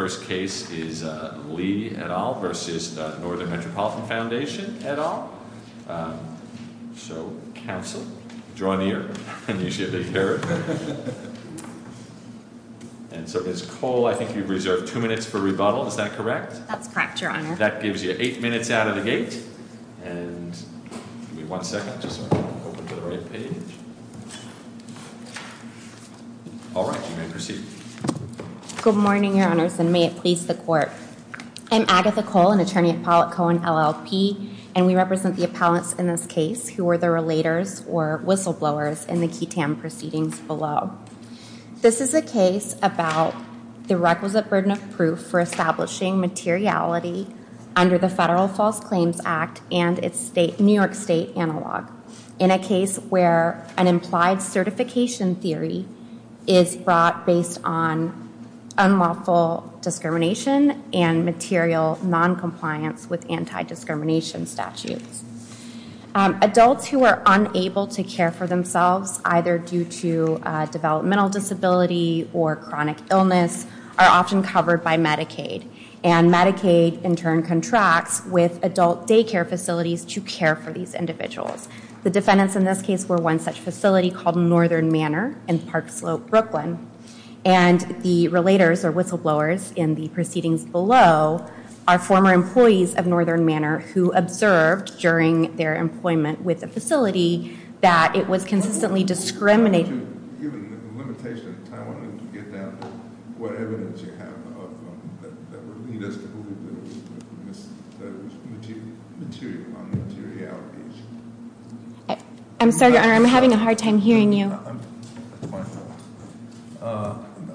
first case is Lee et al. v. Northern Metropolitan Foundation et al. So, counsel, draw near. And so Ms. Cole, I think you've reserved two minutes for rebuttal, is that correct? That's correct, Your Honor. That gives you eight minutes out of the gate. And give me one second just so I can open to the right page. All right, you may proceed. Good morning, Your Honors, and may it please the Court. I'm Agatha Cole, an attorney at Pollack Cohen LLP, and we represent the appellants in this case who are the relators or whistleblowers in the QTAM proceedings below. This is a case about the requisite burden of proof for establishing materiality under the Federal False Claims Act and its New York State analog. In a case where an implied certification theory is brought based on unlawful discrimination and material noncompliance with anti-discrimination statutes. Adults who are unable to care for themselves, either due to developmental disability or chronic illness, are often covered by Medicaid. And Medicaid in turn contracts with adult daycare facilities to care for these individuals. The defendants in this case were one such facility called Northern Manor in Park Slope, Brooklyn. And the relators or whistleblowers in the proceedings below are former employees of Northern Manor who observed during their employment with the facility that it was consistently discriminated. Given the limitation of time, I wanted to get down to what evidence you have of that would lead us to believe that it was material on the materiality issue. I'm sorry, Your Honor, I'm having a hard time hearing you.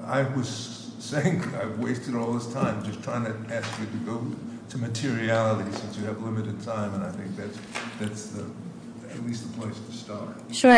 I was saying I've wasted all this time just trying to ask you to go to materiality since you have limited time, and I think that's at least the place to start. Sure.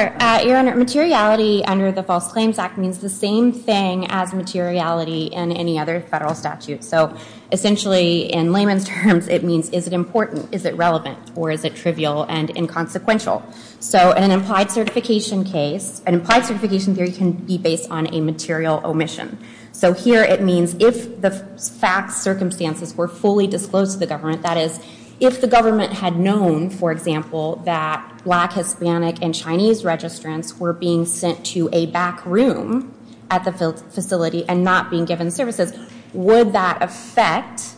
Your Honor, materiality under the False Claims Act means the same thing as materiality in any other federal statute. So essentially, in layman's terms, it means is it important, is it relevant, or is it trivial and inconsequential? So in an implied certification case, an implied certification theory can be based on a material omission. So here it means if the facts, circumstances were fully disclosed to the government, that is, if the government had known, for example, that black, Hispanic, and Chinese registrants were being sent to a back room at the facility and not being given services, would that affect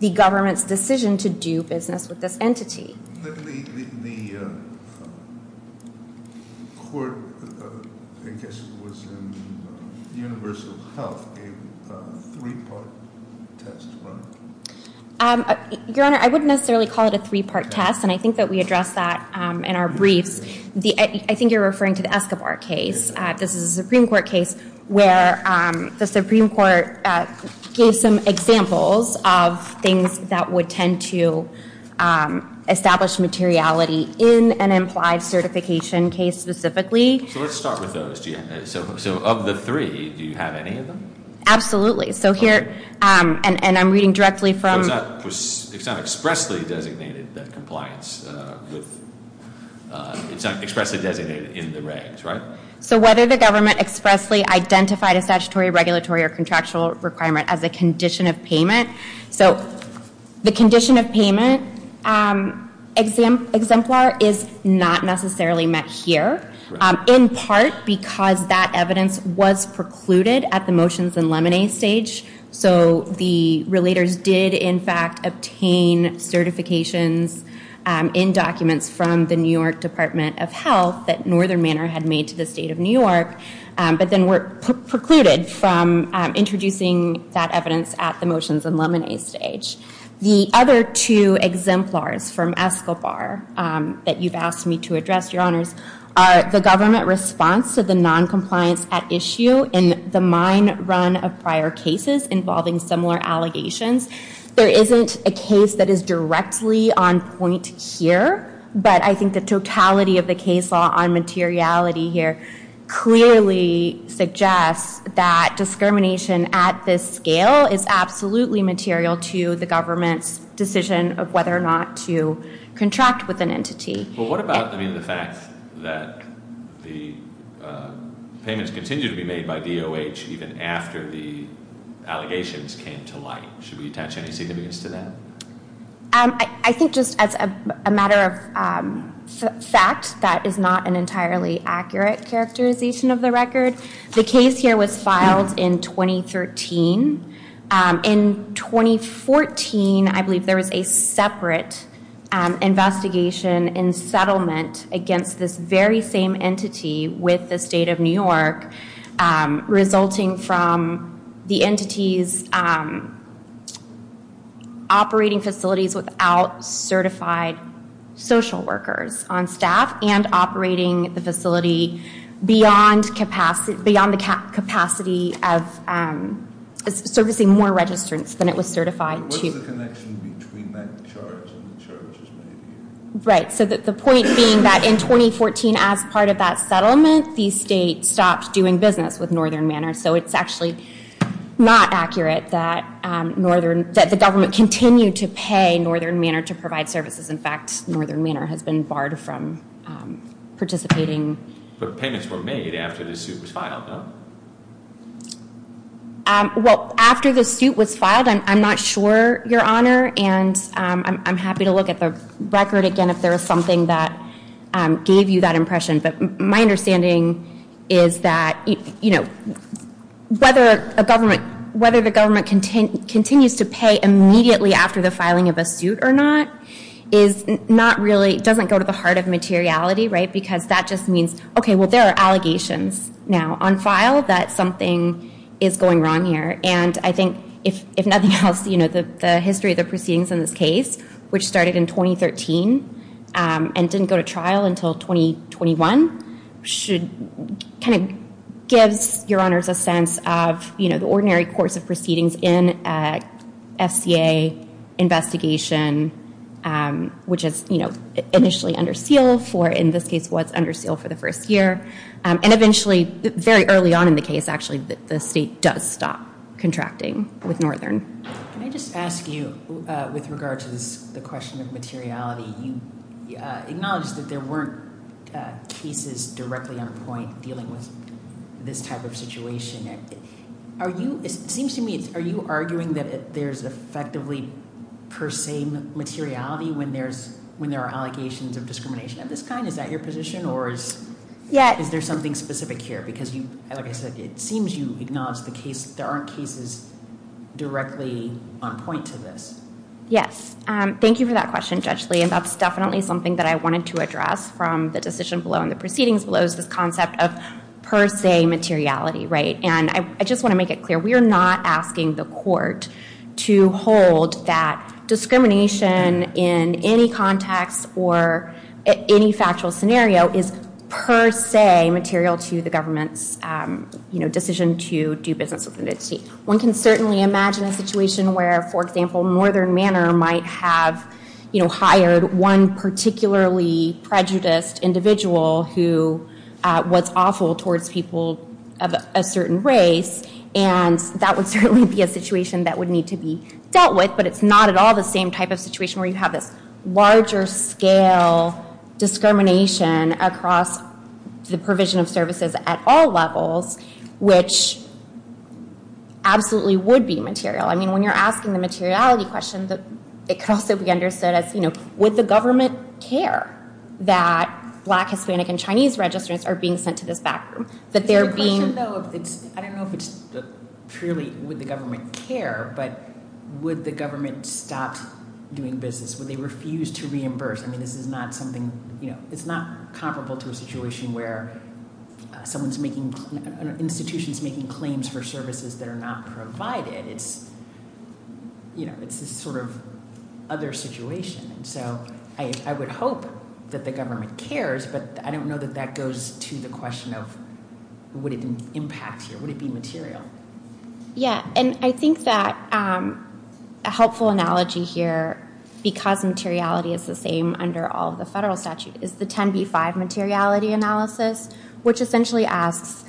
the government's decision to do business with this entity? The court, I guess it was in Universal Health, gave a three-part testimony. Your Honor, I wouldn't necessarily call it a three-part test, and I think that we address that in our briefs. I think you're referring to the Escobar case. This is a Supreme Court case where the Supreme Court gave some examples of things that would tend to establish materiality in an implied certification case specifically. So let's start with those. So of the three, do you have any of them? Absolutely. So here, and I'm reading directly from- It's not expressly designated that compliance with, it's not expressly designated in the regs, right? So whether the government expressly identified a statutory, regulatory, or contractual requirement as a condition of payment. So the condition of payment exemplar is not necessarily met here, in part because that evidence was precluded at the motions and lemonade stage. So the relators did, in fact, obtain certifications in documents from the New York Department of Health that Northern Manor had made to the State of New York, but then were precluded from introducing that evidence at the motions and lemonade stage. The other two exemplars from Escobar that you've asked me to address, Your Honors, are the government response to the noncompliance at issue in the mine run of prior cases involving similar allegations. There isn't a case that is directly on point here, but I think the totality of the case law on materiality here clearly suggests that discrimination at this scale is absolutely material to the government's decision of whether or not to contract with an entity. Well, what about, I mean, the fact that the payments continue to be made by DOH even after the allegations came to light? Should we attach any significance to that? I think just as a matter of fact, that is not an entirely accurate characterization of the record. The case here was filed in 2013. In 2014, I believe there was a separate investigation and settlement against this very same entity with the State of New York, resulting from the entities operating facilities without certified social workers on staff and operating the facility beyond the capacity of servicing more registrants than it was certified to. What is the connection between that charge and the charges? Right, so the point being that in 2014, as part of that settlement, the state stopped doing business with Northern Manor, so it's actually not accurate that the government continued to pay Northern Manor to provide services. In fact, Northern Manor has been barred from participating. But payments were made after the suit was filed, no? Well, after the suit was filed, I'm not sure, Your Honor, and I'm happy to look at the record again if there is something that gave you that impression. But my understanding is that whether the government continues to pay immediately after the filing of a suit or not doesn't go to the heart of materiality, right? Because that just means, okay, well, there are allegations now on file that something is going wrong here. And I think if nothing else, the history of the proceedings in this case, which started in 2013 and didn't go to trial until 2021, kind of gives Your Honors a sense of the ordinary course of proceedings in an FCA investigation, which is initially under seal for, in this case, what's under seal for the first year. And eventually, very early on in the case, actually, the state does stop contracting with Northern. Can I just ask you, with regard to the question of materiality, you acknowledged that there weren't cases directly on point dealing with this type of situation. It seems to me, are you arguing that there's effectively per se materiality when there are allegations of discrimination of this kind? Is that your position, or is there something specific here? Because, like I said, it seems you acknowledge there aren't cases directly on point to this. Yes. Thank you for that question, Judge Lee. And that's definitely something that I wanted to address from the decision below and the proceedings below, is this concept of per se materiality, right? And I just want to make it clear, we are not asking the court to hold that discrimination in any context or any factual scenario is per se material to the government's decision to do business with the state. One can certainly imagine a situation where, for example, Northern Manor might have hired one particularly prejudiced individual who was awful towards people of a certain race, and that would certainly be a situation that would need to be dealt with. But it's not at all the same type of situation where you have this larger scale discrimination across the provision of services at all levels, which absolutely would be material. I mean, when you're asking the materiality question, it could also be understood as, you know, would the government care that black, Hispanic, and Chinese registrants are being sent to this backroom? I don't know if it's purely would the government care, but would the government stop doing business? Would they refuse to reimburse? I mean, this is not something, you know, it's not comparable to a situation where someone's making, an institution's making claims for services that are not provided. It's, you know, it's this sort of other situation. And so I would hope that the government cares, but I don't know that that goes to the question of would it impact here. Would it be material? Yeah, and I think that a helpful analogy here, because materiality is the same under all of the federal statute, is the 10B-5 materiality analysis, which essentially asks,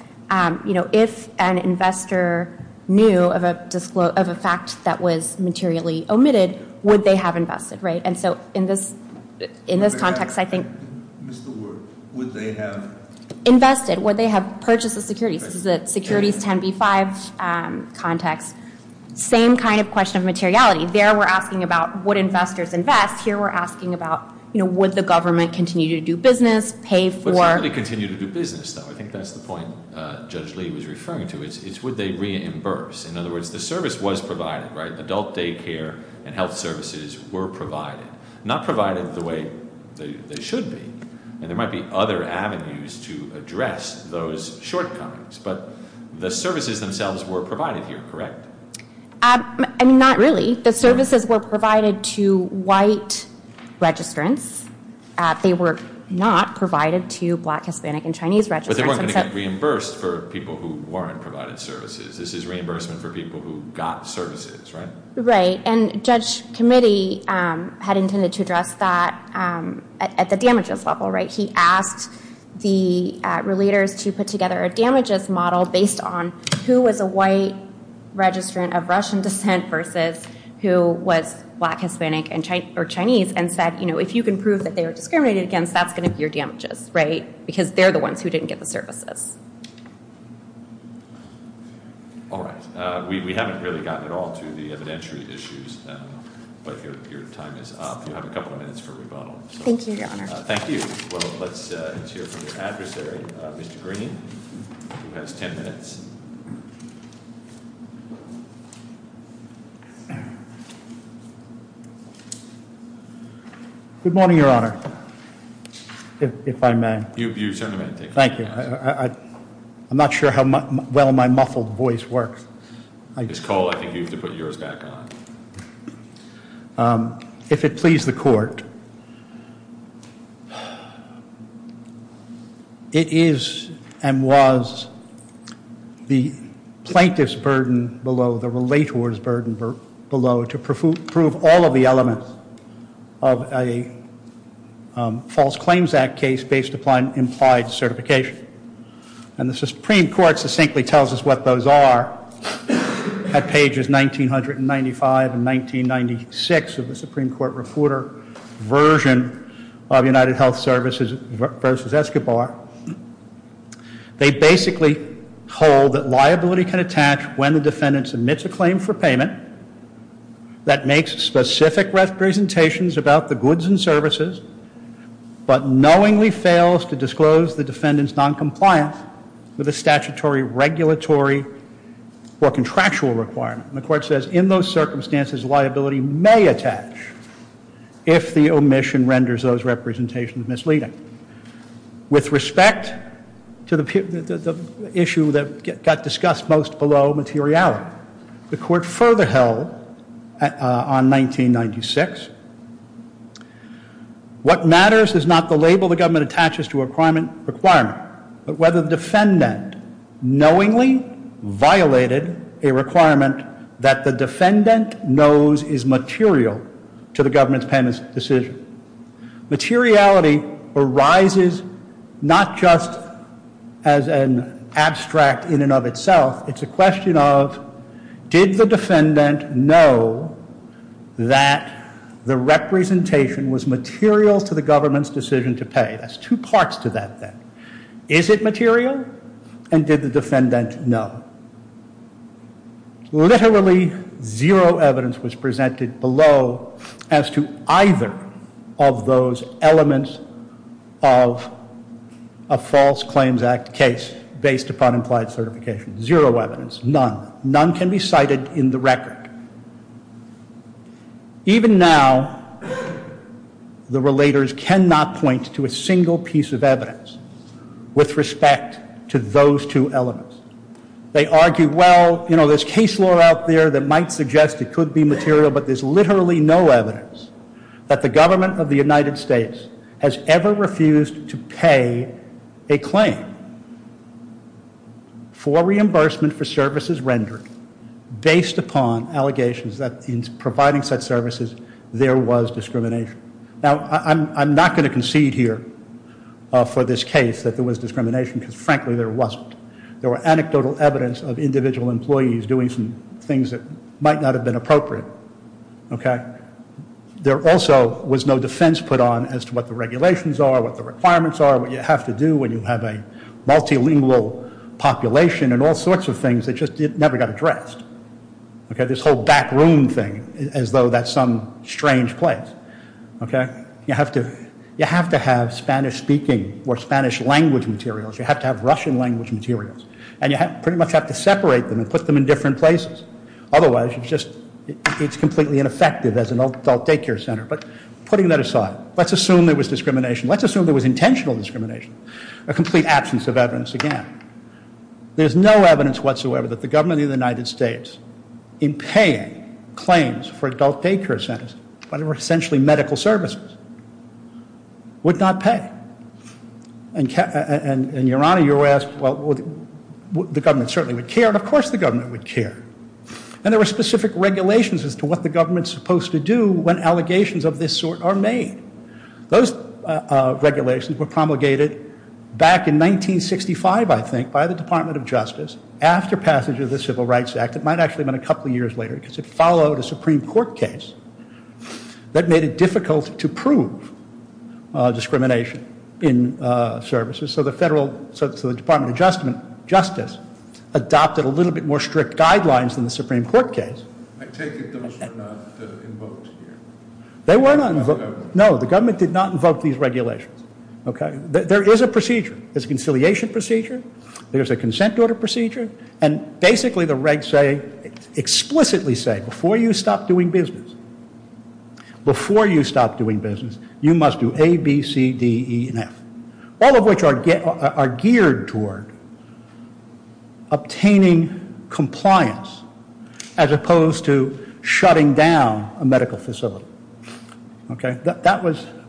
you know, if an investor knew of a fact that was materially omitted, would they have invested, right? And so in this context, I think- Missed the word. Would they have- Invested. Would they have purchased the securities? This is the securities 10B-5 context. Same kind of question of materiality. There we're asking about would investors invest. Here we're asking about, you know, would the government continue to do business, pay for- Would somebody continue to do business, though? I think that's the point Judge Lee was referring to. It's would they reimburse? In other words, the service was provided, right? Not provided the way they should be, and there might be other avenues to address those shortcomings, but the services themselves were provided here, correct? I mean, not really. The services were provided to white registrants. They were not provided to black, Hispanic, and Chinese registrants. But they weren't going to get reimbursed for people who weren't provided services. This is reimbursement for people who got services, right? Right, and Judge Committee had intended to address that at the damages level, right? He asked the relators to put together a damages model based on who was a white registrant of Russian descent versus who was black, Hispanic, or Chinese and said, you know, if you can prove that they were discriminated against, that's going to be your damages, right? Because they're the ones who didn't get the services. All right. We haven't really gotten at all to the evidentiary issues, but your time is up. You have a couple of minutes for rebuttal. Thank you, Your Honor. Thank you. Well, let's hear from your adversary, Mr. Green, who has ten minutes. Good morning, Your Honor, if I may. You certainly may. Thank you. I'm not sure how well my muffled voice works. Ms. Cole, I think you have to put yours back on. If it please the court, it is and was the plaintiff's burden below, the relator's burden below to prove all of the elements of a False Claims Act case based upon implied certification. And the Supreme Court succinctly tells us what those are at pages 1995 and 1996 of the Supreme Court refuter version of United Health Services versus Escobar. They basically hold that liability can attach when the defendant submits a claim for payment that makes specific representations about the goods and services but knowingly fails to disclose the defendant's noncompliance with a statutory regulatory or contractual requirement. And the court says in those circumstances, liability may attach if the omission renders those representations misleading. With respect to the issue that got discussed most below, materiality, the court further held on 1996, what matters is not the label the government attaches to a requirement but whether the defendant knowingly violated a requirement that the defendant knows is material to the government's payment decision. Materiality arises not just as an abstract in and of itself. It's a question of did the defendant know that the representation was material to the government's decision to pay. That's two parts to that thing. Is it material and did the defendant know? Literally zero evidence was presented below as to either of those elements of a False Claims Act case based upon implied certification. Zero evidence. None. None can be cited in the record. Even now, the relators cannot point to a single piece of evidence with respect to those two elements. They argue, well, you know, there's case law out there that might suggest it could be material, but there's literally no evidence that the government of the United States has ever refused to pay a claim for reimbursement for services rendered based upon allegations that in providing such services, there was discrimination. Now, I'm not going to concede here for this case that there was discrimination because, frankly, there wasn't. There were anecdotal evidence of individual employees doing some things that might not have been appropriate. There also was no defense put on as to what the regulations are, what the requirements are, what you have to do when you have a multilingual population and all sorts of things that just never got addressed. This whole back room thing as though that's some strange place. You have to have Spanish-speaking or Spanish-language materials. You have to have Russian-language materials, and you pretty much have to separate them and put them in different places. Otherwise, it's completely ineffective as an adult daycare center. But putting that aside, let's assume there was discrimination. Let's assume there was intentional discrimination, a complete absence of evidence again. There's no evidence whatsoever that the government of the United States in paying claims for adult daycare centers, when they were essentially medical services, would not pay. And, Your Honor, you asked, well, the government certainly would care, and of course the government would care. And there were specific regulations as to what the government's supposed to do when allegations of this sort are made. Those regulations were promulgated back in 1965, I think, by the Department of Justice after passage of the Civil Rights Act. It might actually have been a couple of years later, because it followed a Supreme Court case that made it difficult to prove discrimination in services. So the Department of Justice adopted a little bit more strict guidelines than the Supreme Court case. I take it those were not invoked here. They were not invoked. No, the government did not invoke these regulations. There is a procedure. There's a conciliation procedure. There's a consent order procedure. And basically the regs say, explicitly say, before you stop doing business, before you stop doing business, you must do A, B, C, D, E, and F. All of which are geared toward obtaining compliance as opposed to shutting down a medical facility. Okay?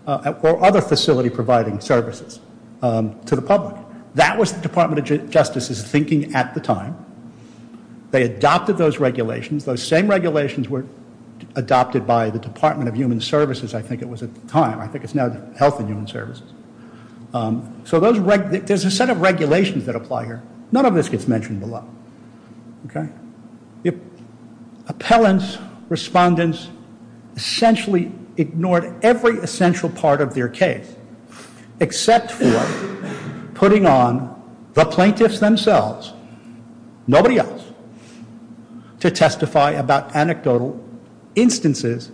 Or other facility providing services to the public. That was the Department of Justice's thinking at the time. They adopted those regulations. Those same regulations were adopted by the Department of Human Services, I think it was at the time. I think it's now the Health and Human Services. So there's a set of regulations that apply here. None of this gets mentioned below. Okay? Appellants, respondents essentially ignored every essential part of their case except for putting on the plaintiffs themselves, nobody else, to testify about anecdotal instances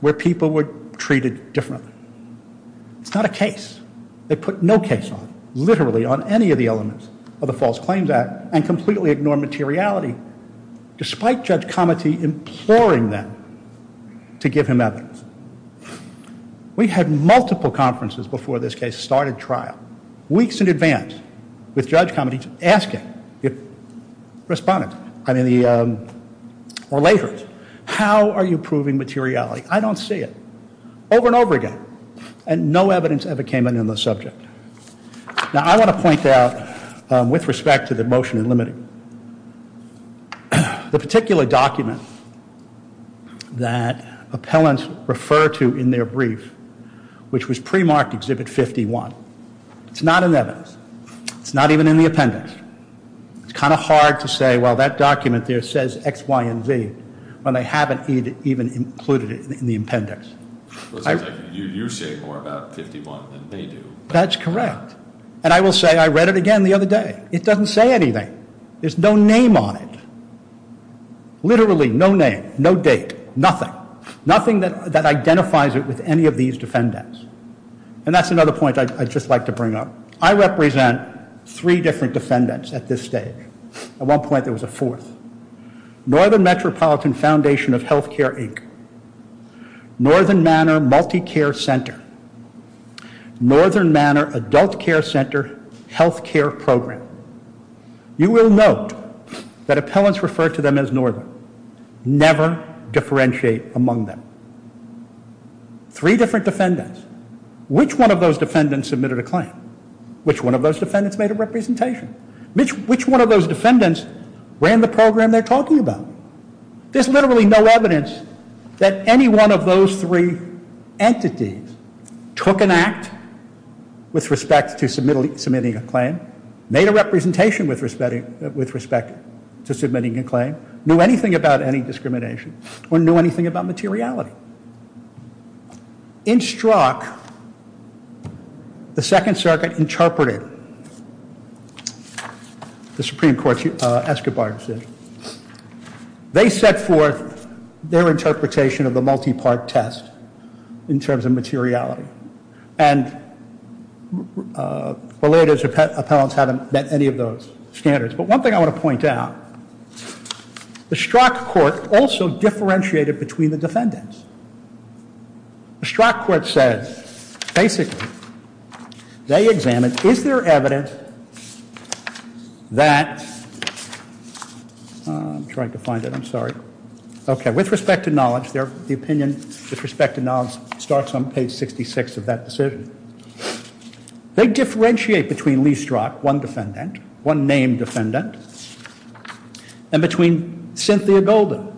where people were treated differently. It's not a case. They put no case on it, literally on any of the elements of the False Claims Act, and completely ignored materiality despite Judge Cometty imploring them to give him evidence. We had multiple conferences before this case started trial, weeks in advance, with Judge Cometty asking the respondent, I mean the, or later, how are you proving materiality? I don't see it. Over and over again. And no evidence ever came in on the subject. Now I want to point out, with respect to the motion in limiting, the particular document that appellants refer to in their brief, which was pre-marked Exhibit 51. It's not in the evidence. It's not even in the appendix. It's kind of hard to say, well, that document there says X, Y, and Z, when they haven't even included it in the appendix. You say more about 51 than they do. That's correct. And I will say I read it again the other day. It doesn't say anything. There's no name on it. Literally no name, no date, nothing. Nothing that identifies it with any of these defendants. And that's another point I'd just like to bring up. I represent three different defendants at this stage. At one point there was a fourth. Northern Metropolitan Foundation of Healthcare, Inc., Northern Manor MultiCare Center, Northern Manor Adult Care Center Healthcare Program. You will note that appellants refer to them as Northern. Never differentiate among them. Three different defendants. Which one of those defendants submitted a claim? Which one of those defendants made a representation? Which one of those defendants ran the program they're talking about? There's literally no evidence that any one of those three entities took an act with respect to submitting a claim, made a representation with respect to submitting a claim, knew anything about any discrimination, or knew anything about materiality. In Strzok, the Second Circuit interpreted the Supreme Court's Escobar decision. They set forth their interpretation of the multi-part test in terms of materiality. And related appellants haven't met any of those standards. But one thing I want to point out, the Strzok court also differentiated between the defendants. The Strzok court says, basically, they examined, is there evidence that, I'm trying to find it, I'm sorry. Okay, with respect to knowledge, the opinion with respect to knowledge starts on page 66 of that decision. They differentiate between Lee Strzok, one defendant, one named defendant, and between Cynthia Golden,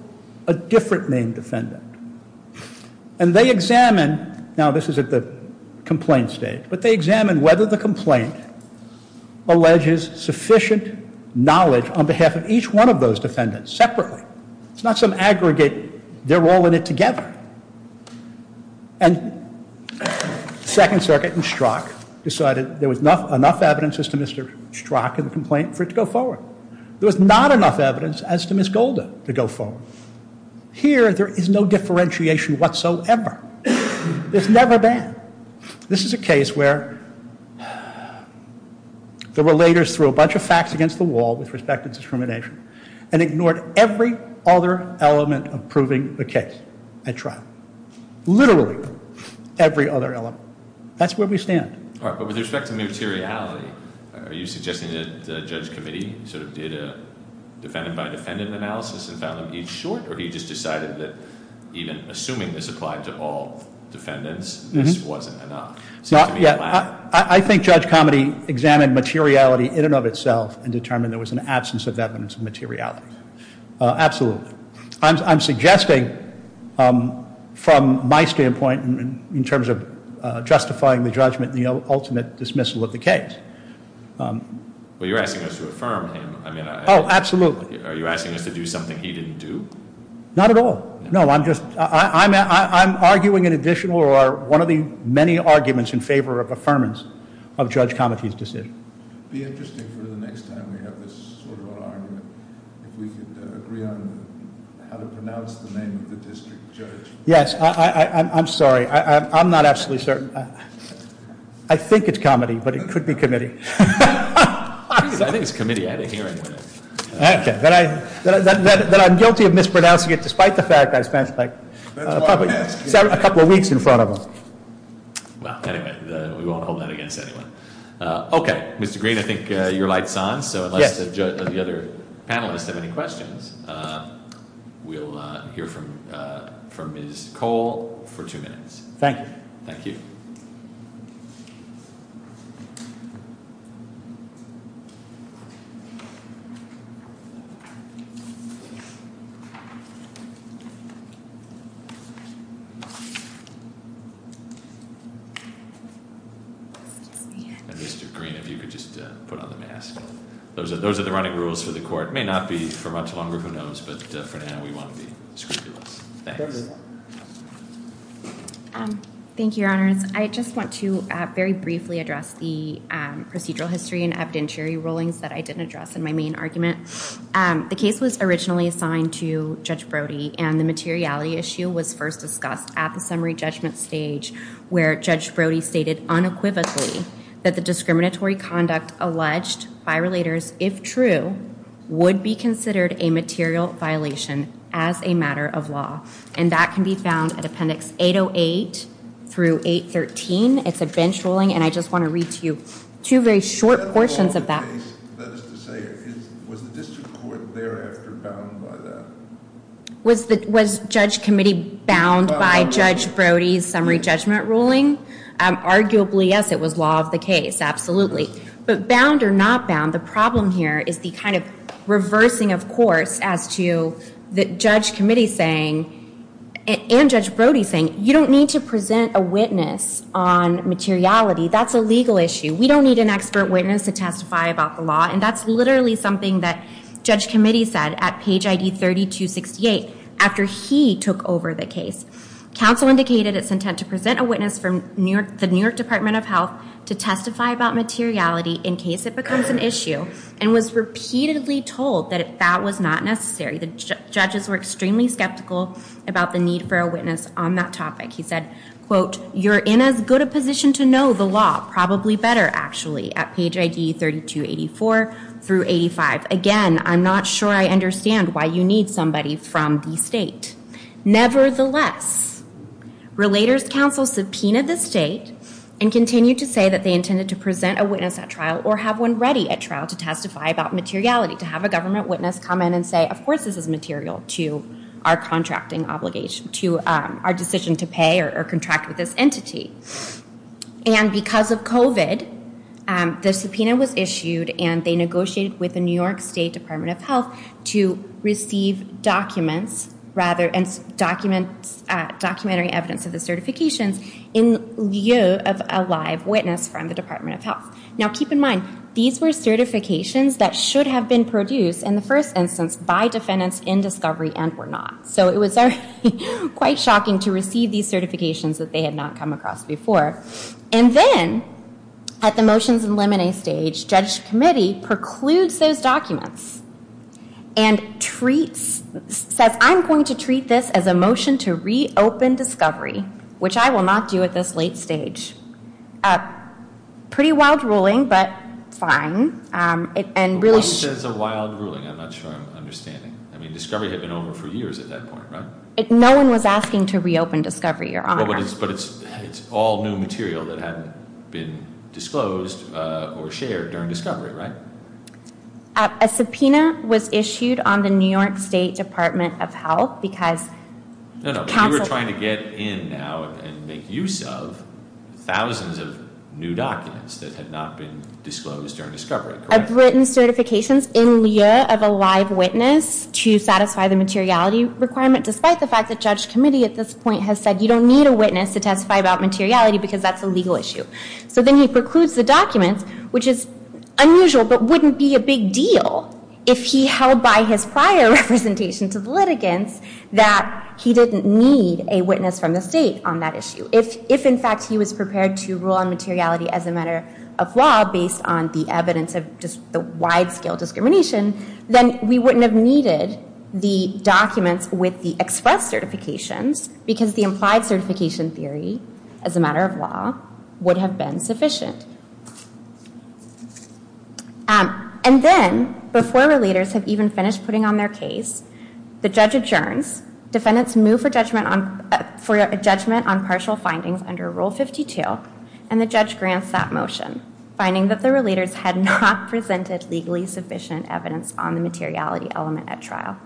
a different named defendant. And they examine, now this is at the complaint stage, but they examine whether the complaint alleges sufficient knowledge on behalf of each one of those defendants separately. It's not some aggregate, they're all in it together. And Second Circuit in Strzok decided there was enough evidence as to Mr. Strzok in the complaint for it to go forward. There was not enough evidence as to Ms. Golden to go forward. Here, there is no differentiation whatsoever. There's never been. This is a case where the relators threw a bunch of facts against the wall with respect to discrimination and ignored every other element of proving the case. At trial. Literally. Every other element. That's where we stand. All right, but with respect to materiality, are you suggesting that Judge Comedy sort of did a defendant-by-defendant analysis and found them each short, or he just decided that even assuming this applied to all defendants, this wasn't enough? Yeah, I think Judge Comedy examined materiality in and of itself and determined there was an absence of evidence of materiality. Absolutely. I'm suggesting from my standpoint in terms of justifying the judgment and the ultimate dismissal of the case. Well, you're asking us to affirm him. Oh, absolutely. Are you asking us to do something he didn't do? Not at all. No, I'm arguing an additional or one of the many arguments in favor of affirmance of Judge Comedy's decision. It would be interesting for the next time we have this sort of argument if we could agree on how to pronounce the name of the district judge. Yes. I'm sorry. I'm not absolutely certain. I think it's Comedy, but it could be Committee. I think it's Committee at a hearing. Okay. Then I'm guilty of mispronouncing it despite the fact I spent probably a couple of weeks in front of him. Well, anyway, we won't hold that against anyone. Okay. Mr. Green, I think your light's on, so unless the other panelists have any questions, we'll hear from Ms. Cole for two minutes. Thank you. Thank you. Mr. Green, if you could just put on the mask. Those are the running rules for the court. It may not be for much longer. Who knows? But for now, we want to be scrupulous. Thanks. Thank you, Your Honors. I just want to very briefly address the procedural history and evidentiary rulings that I didn't address in my main argument. The case was originally assigned to Judge Brody, and the materiality issue was first discussed at the summary judgment stage where Judge Brody stated unequivocally that the discriminatory conduct alleged by relators, if true, would be considered a material violation as a matter of law, and that can be found at Appendix 808 through 813. It's a bench ruling, and I just want to read to you two very short portions of that. Was the district court thereafter bound by that? Was Judge Committee bound by Judge Brody's summary judgment ruling? Arguably, yes, it was law of the case, absolutely. But bound or not bound, the problem here is the kind of reversing of course as to the Judge Committee saying and Judge Brody saying, you don't need to present a witness on materiality. That's a legal issue. We don't need an expert witness to testify about the law, and that's literally something that Judge Committee said at page ID 3268 after he took over the case. Counsel indicated its intent to present a witness from the New York Department of Health to testify about materiality in case it becomes an issue and was repeatedly told that that was not necessary. The judges were extremely skeptical about the need for a witness on that topic. He said, quote, you're in as good a position to know the law, probably better actually at page ID 3284 through 85. Again, I'm not sure I understand why you need somebody from the state. Nevertheless, Relators Council subpoenaed the state and continued to say that they intended to present a witness at trial or have one ready at trial to testify about materiality, to have a government witness come in and say, of course this is material to our contracting obligation, to our decision to pay or contract with this entity. And because of COVID, the subpoena was issued and they negotiated with the New York State Department of Health to receive documents, rather, and documentary evidence of the certifications in lieu of a live witness from the Department of Health. Now, keep in mind, these were certifications that should have been produced, in the first instance, by defendants in discovery and were not. So it was already quite shocking to receive these certifications that they had not come across before. And then, at the motions and limine stage, Judge's committee precludes those documents and says, I'm going to treat this as a motion to reopen discovery, which I will not do at this late stage. Pretty wild ruling, but fine. What do you mean it's a wild ruling? I'm not sure I'm understanding. I mean, discovery had been over for years at that point, right? No one was asking to reopen discovery, Your Honor. But it's all new material that hadn't been disclosed or shared during discovery, right? A subpoena was issued on the New York State Department of Health because- No, no, we were trying to get in now and make use of thousands of new documents that had not been disclosed during discovery, correct? He had written certifications in lieu of a live witness to satisfy the materiality requirement, despite the fact that Judge's committee at this point has said you don't need a witness to testify about materiality because that's a legal issue. So then he precludes the documents, which is unusual but wouldn't be a big deal if he held by his prior representation to the litigants that he didn't need a witness from the state on that issue. If, in fact, he was prepared to rule on materiality as a matter of law based on the evidence of just the wide-scale discrimination, then we wouldn't have needed the documents with the express certifications because the implied certification theory, as a matter of law, would have been sufficient. And then, before the leaders have even finished putting on their case, the judge adjourns. Defendants move for judgment on partial findings under Rule 52, and the judge grants that motion, finding that the relators had not presented legally sufficient evidence on the materiality element at trial.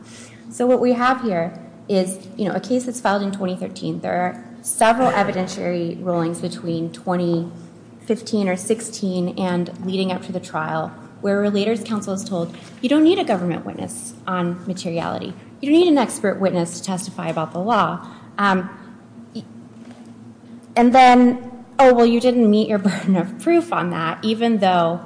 So what we have here is a case that's filed in 2013. There are several evidentiary rulings between 2015 or 2016 and leading up to the trial, where a relator's counsel is told, you don't need a government witness on materiality. You don't need an expert witness to testify about the law. And then, oh, well, you didn't meet your burden of proof on that, even though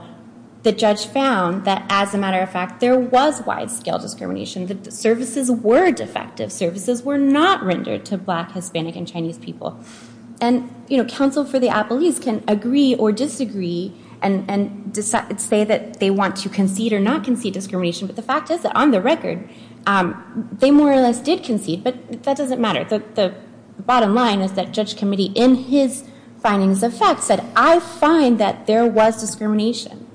the judge found that, as a matter of fact, there was wide-scale discrimination. The services were defective. Services were not rendered to black, Hispanic, and Chinese people. And counsel for the appellees can agree or disagree and say that they want to concede or not concede discrimination, but the fact is that, on the record, they more or less did concede, but that doesn't matter. The bottom line is that judge committee, in his findings of fact, said, I find that there was discrimination,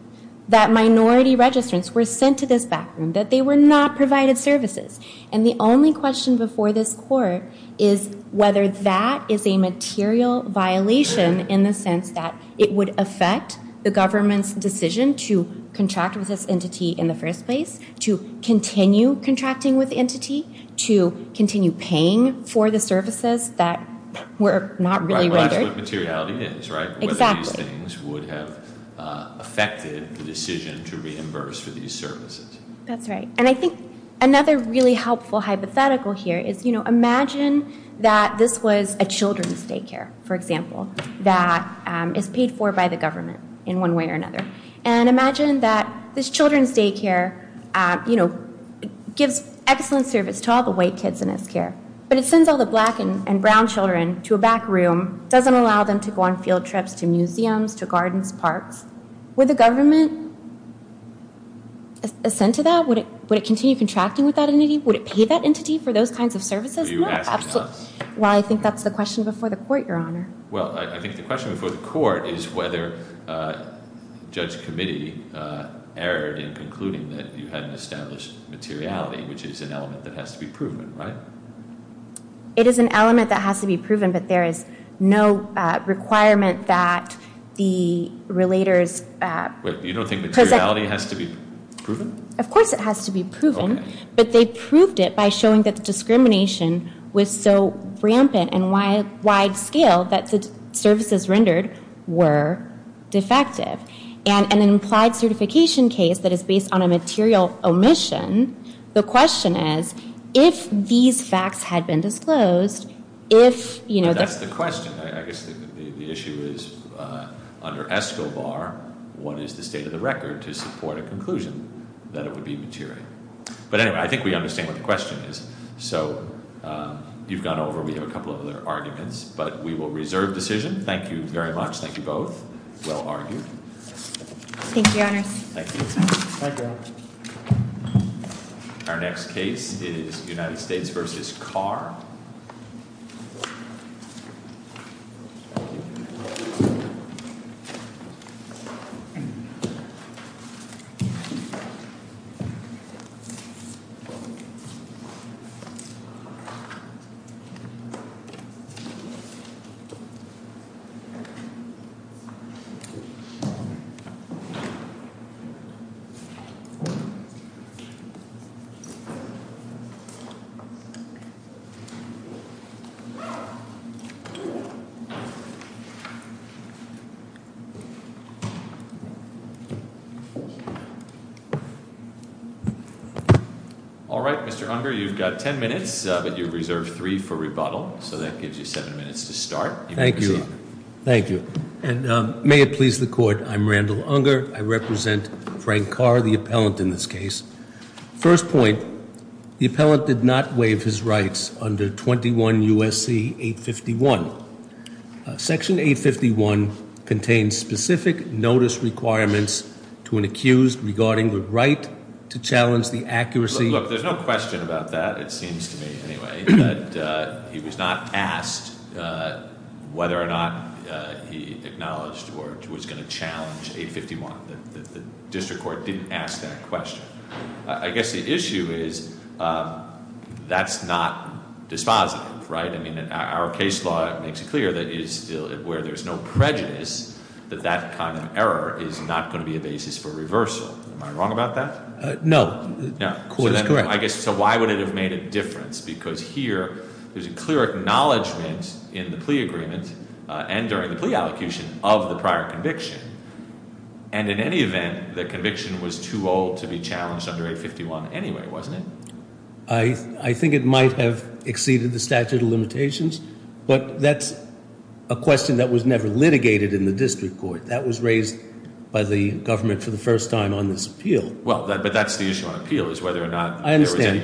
that minority registrants were sent to this back room, that they were not provided services. And the only question before this court is whether that is a material violation in the sense that it would affect the government's decision to contract with this entity in the first place, to continue contracting with the entity, to continue paying for the services that were not really rendered. Well, that's what materiality is, right? Exactly. Whether these things would have affected the decision to reimburse for these services. That's right. And I think another really helpful hypothetical here is, you know, imagine that this was a children's daycare, for example, that is paid for by the government in one way or another. And imagine that this children's daycare, you know, gives excellent service to all the white kids in this care, but it sends all the black and brown children to a back room, doesn't allow them to go on field trips to museums, to gardens, parks. Would the government ascend to that? Would it continue contracting with that entity? Would it pay that entity for those kinds of services? No. Well, I think that's the question before the court, Your Honor. Well, I think the question before the court is whether the judge committee erred in concluding that you had an established materiality, which is an element that has to be proven, right? It is an element that has to be proven, but there is no requirement that the relators. You don't think materiality has to be proven? Of course it has to be proven, but they proved it by showing that the discrimination was so rampant and wide scale that the services rendered were defective. And an implied certification case that is based on a material omission, the question is if these facts had been disclosed, if, you know, That's the question. I guess the issue is under ESCOBAR, what is the state of the record to support a conclusion that it would be material? But anyway, I think we understand what the question is. So you've gone over. We have a couple of other arguments, but we will reserve decision. Thank you very much. Thank you both. Well argued. Thank you, Your Honor. Thank you. Thank you, Your Honor. Our next case is United States v. Carr. Thank you. All right. Mr. Unger, you've got ten minutes, but you reserved three for rebuttal. So that gives you seven minutes to start. Thank you. Thank you. And may it please the court, I'm Randall Unger. I represent Frank Carr, the appellant in this case. First point, the appellant did not waive his rights under 21 U.S.C. 851. Section 851 contains specific notice requirements to an accused regarding the right to challenge the accuracy Look, there's no question about that, it seems to me, anyway. He was not asked whether or not he acknowledged or was going to challenge 851. The district court didn't ask that question. I guess the issue is that's not dispositive, right? I mean, our case law makes it clear that where there's no prejudice, that that kind of error is not going to be a basis for reversal. Am I wrong about that? No. The court is correct. So why would it have made a difference? Because here there's a clear acknowledgment in the plea agreement and during the plea allocation of the prior conviction. And in any event, the conviction was too old to be challenged under 851 anyway, wasn't it? I think it might have exceeded the statute of limitations, but that's a question that was never litigated in the district court. That was raised by the government for the first time on this appeal. Well, but that's the issue on appeal is whether or not- I understand.